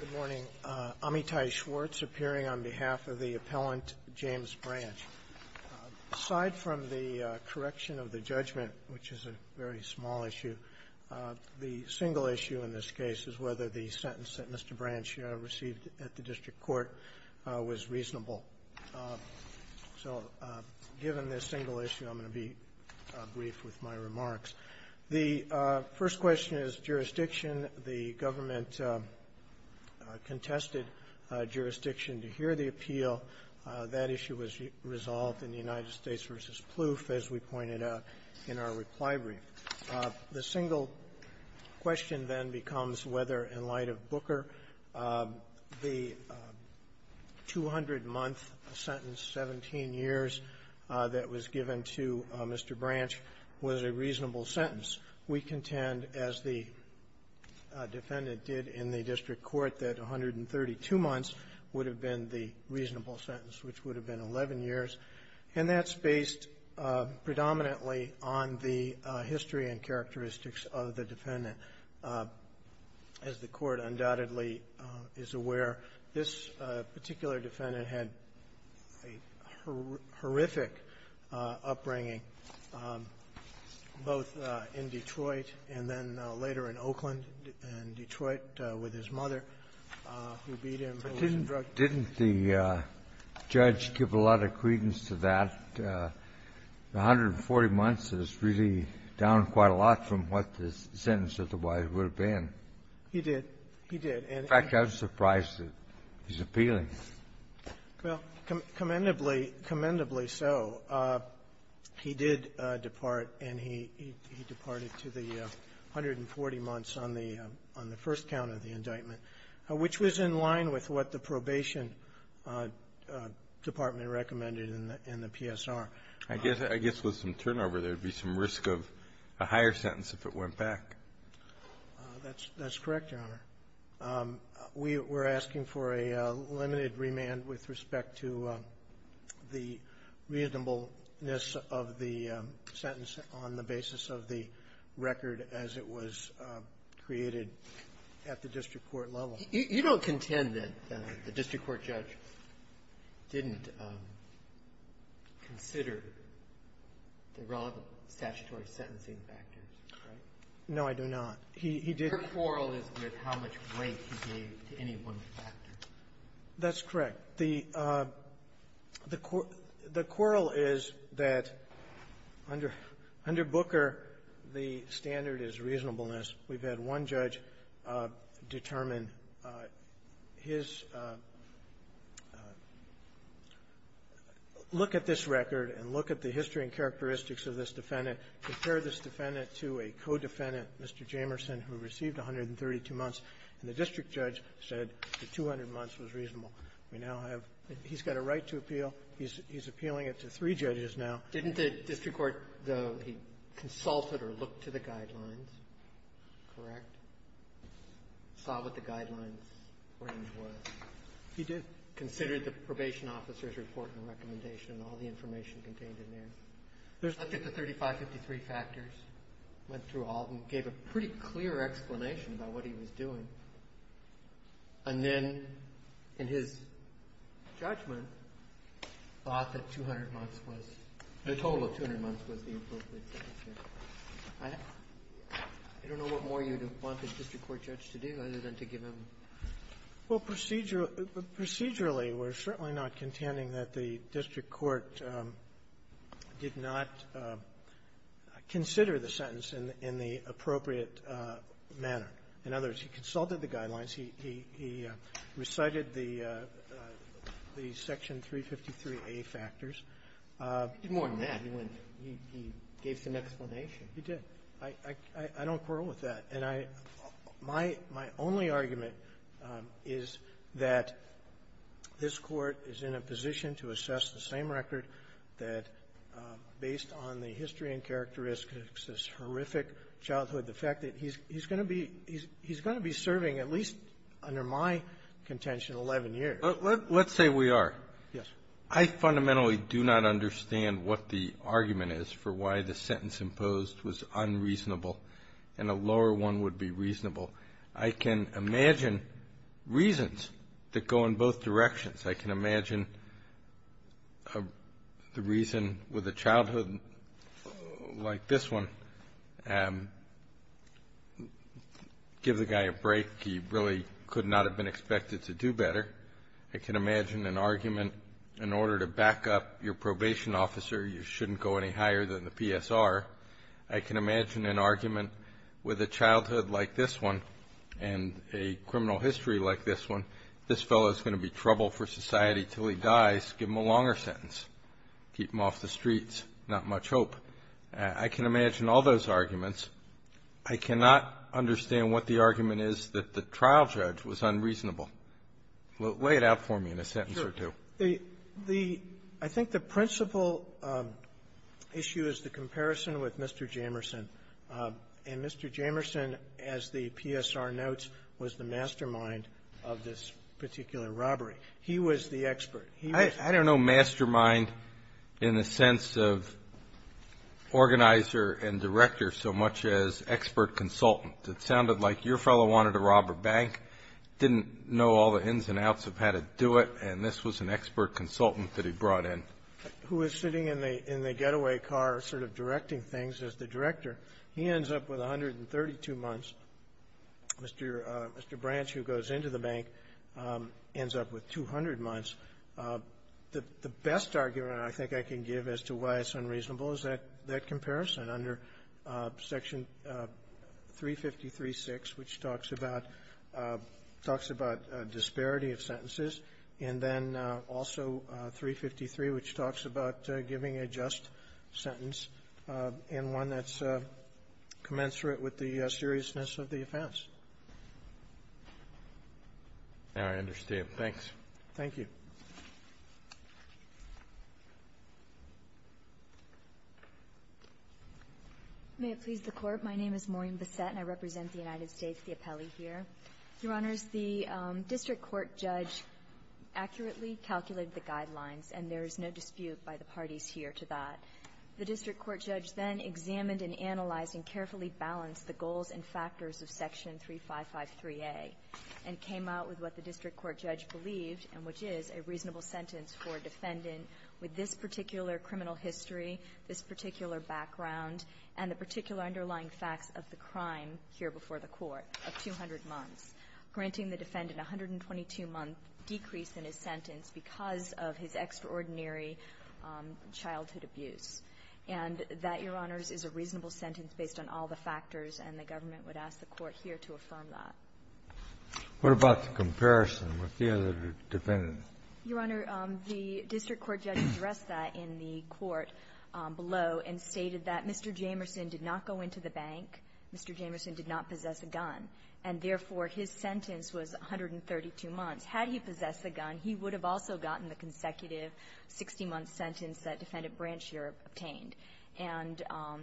Good morning. Amitai Schwartz appearing on behalf of the appellant James Branch. Aside from the correction of the judgment, which is a very small issue, the single issue in this case is whether the sentence that Mr. Branch received at the district court was reasonable. So given this single issue, I'm going to be brief with my remarks. The first question is jurisdiction. The government contested jurisdiction to hear the appeal. That issue was resolved in the United States v. Plouffe, as we pointed out in our reply brief. The single question then becomes whether, in light of Booker, the 200-month sentence, 17 years, that was given to Mr. Branch was a reasonable sentence. We contend, as the defendant did in the district court, that 132 months would have been the reasonable sentence, which would have been 11 years. And that's based predominantly on the history and characteristics of the defendant. As the Court undoubtedly is aware, this particular defendant had a horrific upbringing, both in Detroit and then later in Oakland, in Detroit with his mother, who beat him, who was a drug dealer. Kennedy, didn't the judge give a lot of credence to that? The 140 months is really down quite a lot from what the sentence otherwise would have been. He did. He did. In fact, I was surprised that he's appealing. Well, commendably, commendably so. He did depart, and he departed to the 140 months on the first count of the indictment, which was in line with what the Probation Department recommended in the PSR. I guess with some turnover, there would be some risk of a higher sentence if it went back. That's correct, Your Honor. We're asking for a limited remand with respect to the reasonableness of the sentence on the basis of the record as it was created at the district court level. You don't contend that the district court judge didn't consider the relevant statutory sentencing factors, correct? No, I do not. He did. Your quarrel is with how much weight he gave to any one factor. That's correct. The quarrel is that under Booker, the standard is reasonableness. We've had one judge determine his look at this record and look at the history and characteristics of this defendant, compare this defendant to a co-defendant, Mr. Jamerson, who received 132 months, and the district judge said the 200 months was reasonable. We now have he's got a right to appeal. He's appealing it to three judges now. Didn't the district court, though, he consulted or looked to the guidelines, correct? Saw what the guidelines range was. He did. Considered the probation officer's report and recommendation and all the information contained in there. Looked at the 3553 factors. Went through all of them. Gave a pretty clear explanation about what he was doing. And then, in his judgment, thought that 200 months was the total of 200 months was the appropriate sentence here. I don't know what more you'd want the district court judge to do other than to give him. Well, procedurally, we're certainly not contending that the district court did not consider the sentence in the appropriate manner. In other words, he consulted the guidelines. He recited the Section 353a factors. He did more than that. He went to the next one. He did. I don't quarrel with that. And I my only argument is that this Court is in a position to assess the same record that he's going to be serving at least, under my contention, 11 years. Let's say we are. Yes. I fundamentally do not understand what the argument is for why the sentence imposed was unreasonable and a lower one would be reasonable. I can imagine reasons that go in both directions. I can imagine the reason with a childhood like this one, give the guy a break. He really could not have been expected to do better. I can imagine an argument in order to back up your probation officer, you shouldn't go any higher than the PSR. I can imagine an argument with a childhood like this one and a criminal history like this one, this fellow is going to be trouble for society until he dies. Give him a longer sentence. Keep him off the streets. Not much hope. I can imagine all those arguments. I cannot understand what the argument is that the trial judge was unreasonable. Lay it out for me in a sentence or two. The the I think the principal issue is the comparison with Mr. Jamerson. And Mr. Jamerson, as the PSR notes, was the mastermind of this particular robbery. He was the expert. He was the expert. I don't know mastermind in the sense of organizer and director so much as expert consultant. It sounded like your fellow wanted to rob a bank, didn't know all the ins and outs of how to do it, and this was an expert consultant that he brought in. Who is sitting in the in the getaway car sort of directing things as the director. He ends up with 132 months. Mr. Mr. Branch, who goes into the bank, ends up with 200 months. The best argument I think I can give as to why it's unreasonable is that that comparison under Section 353.6, which talks about talks about disparity of sentences, and then also 353, which talks about giving a just sentence in one that's commensurate with the seriousness of the offense. Now I understand. Thanks. Thank you. May it please the Court. My name is Maureen Bissette, and I represent the United States, the appellee here. Your Honors, the district court judge accurately calculated the guidelines, and there is no dispute by the parties here to that. The district court judge then examined and analyzed and carefully balanced the goals and factors of Section 355.3a and came out with what the district court judge believed, and which is a reasonable sentence for a defendant with this particular criminal history, this particular background, and the particular underlying facts of the crime here before the Court of 200 months, granting the defendant a 122-month decrease in his sentence because of his extraordinary childhood abuse. And that, Your Honors, is a reasonable sentence based on all the factors, and the government would ask the Court here to affirm that. What about the comparison with the other defendants? Your Honor, the district court judge addressed that in the court below and stated that Mr. Jamerson did not go into the bank, Mr. Jamerson did not possess a gun, and therefore, his sentence was 132 months. Had he possessed a gun, he would have also gotten the consecutive 60-month sentence that Defendant Branch here obtained. And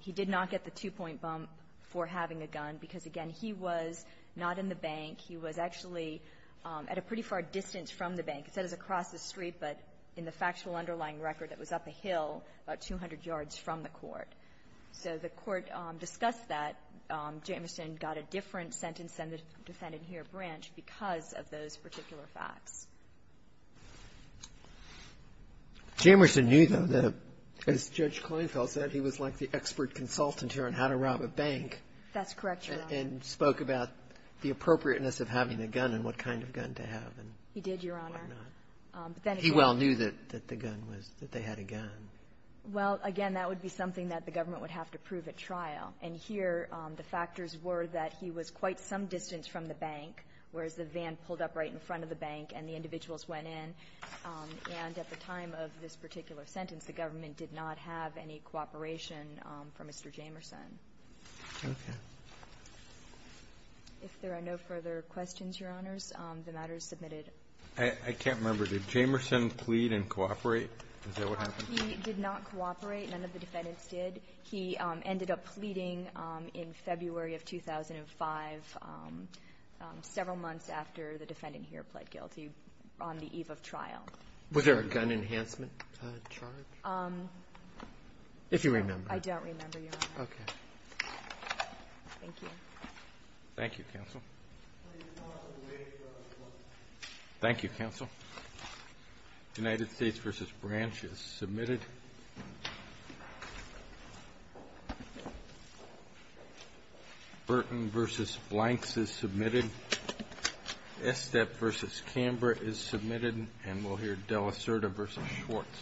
he did not get the two-point bump for having a gun because, again, he was not in the bank. He was actually at a pretty far distance from the bank. It says across the street, but in the factual underlying record, it was up a hill about 200 yards from the court. So the court discussed that. Jamerson got a different sentence than the Defendant here, Branch, because of those particular facts. Jamerson knew, though, that, as Judge Kleinfeld said, he was like the expert consultant here on how to rob a bank. That's correct, Your Honor. And spoke about the appropriateness of having a gun and what kind of gun to have and whatnot. He did, Your Honor. He well knew that the gun was that they had a gun. Well, again, that would be something that the government would have to prove at trial. And here, the factors were that he was quite some distance from the bank, whereas the van pulled up right in front of the bank and the individuals went in. And at the time of this particular sentence, the government did not have any cooperation for Mr. Jamerson. Okay. If there are no further questions, Your Honors, the matter is submitted. I can't remember. Did Jamerson plead and cooperate? Is that what happened? He did not cooperate. None of the defendants did. He ended up pleading in February of 2005, several months after the defendant here pled guilty on the eve of trial. Was there a gun enhancement charge? If you remember. I don't remember, Your Honor. Okay. Thank you. Thank you, counsel. Thank you, counsel. United States v. Branch is submitted. Burton v. Blanks is submitted. Estep v. Canberra is submitted. And we'll hear Dela Certa v. Schwartz.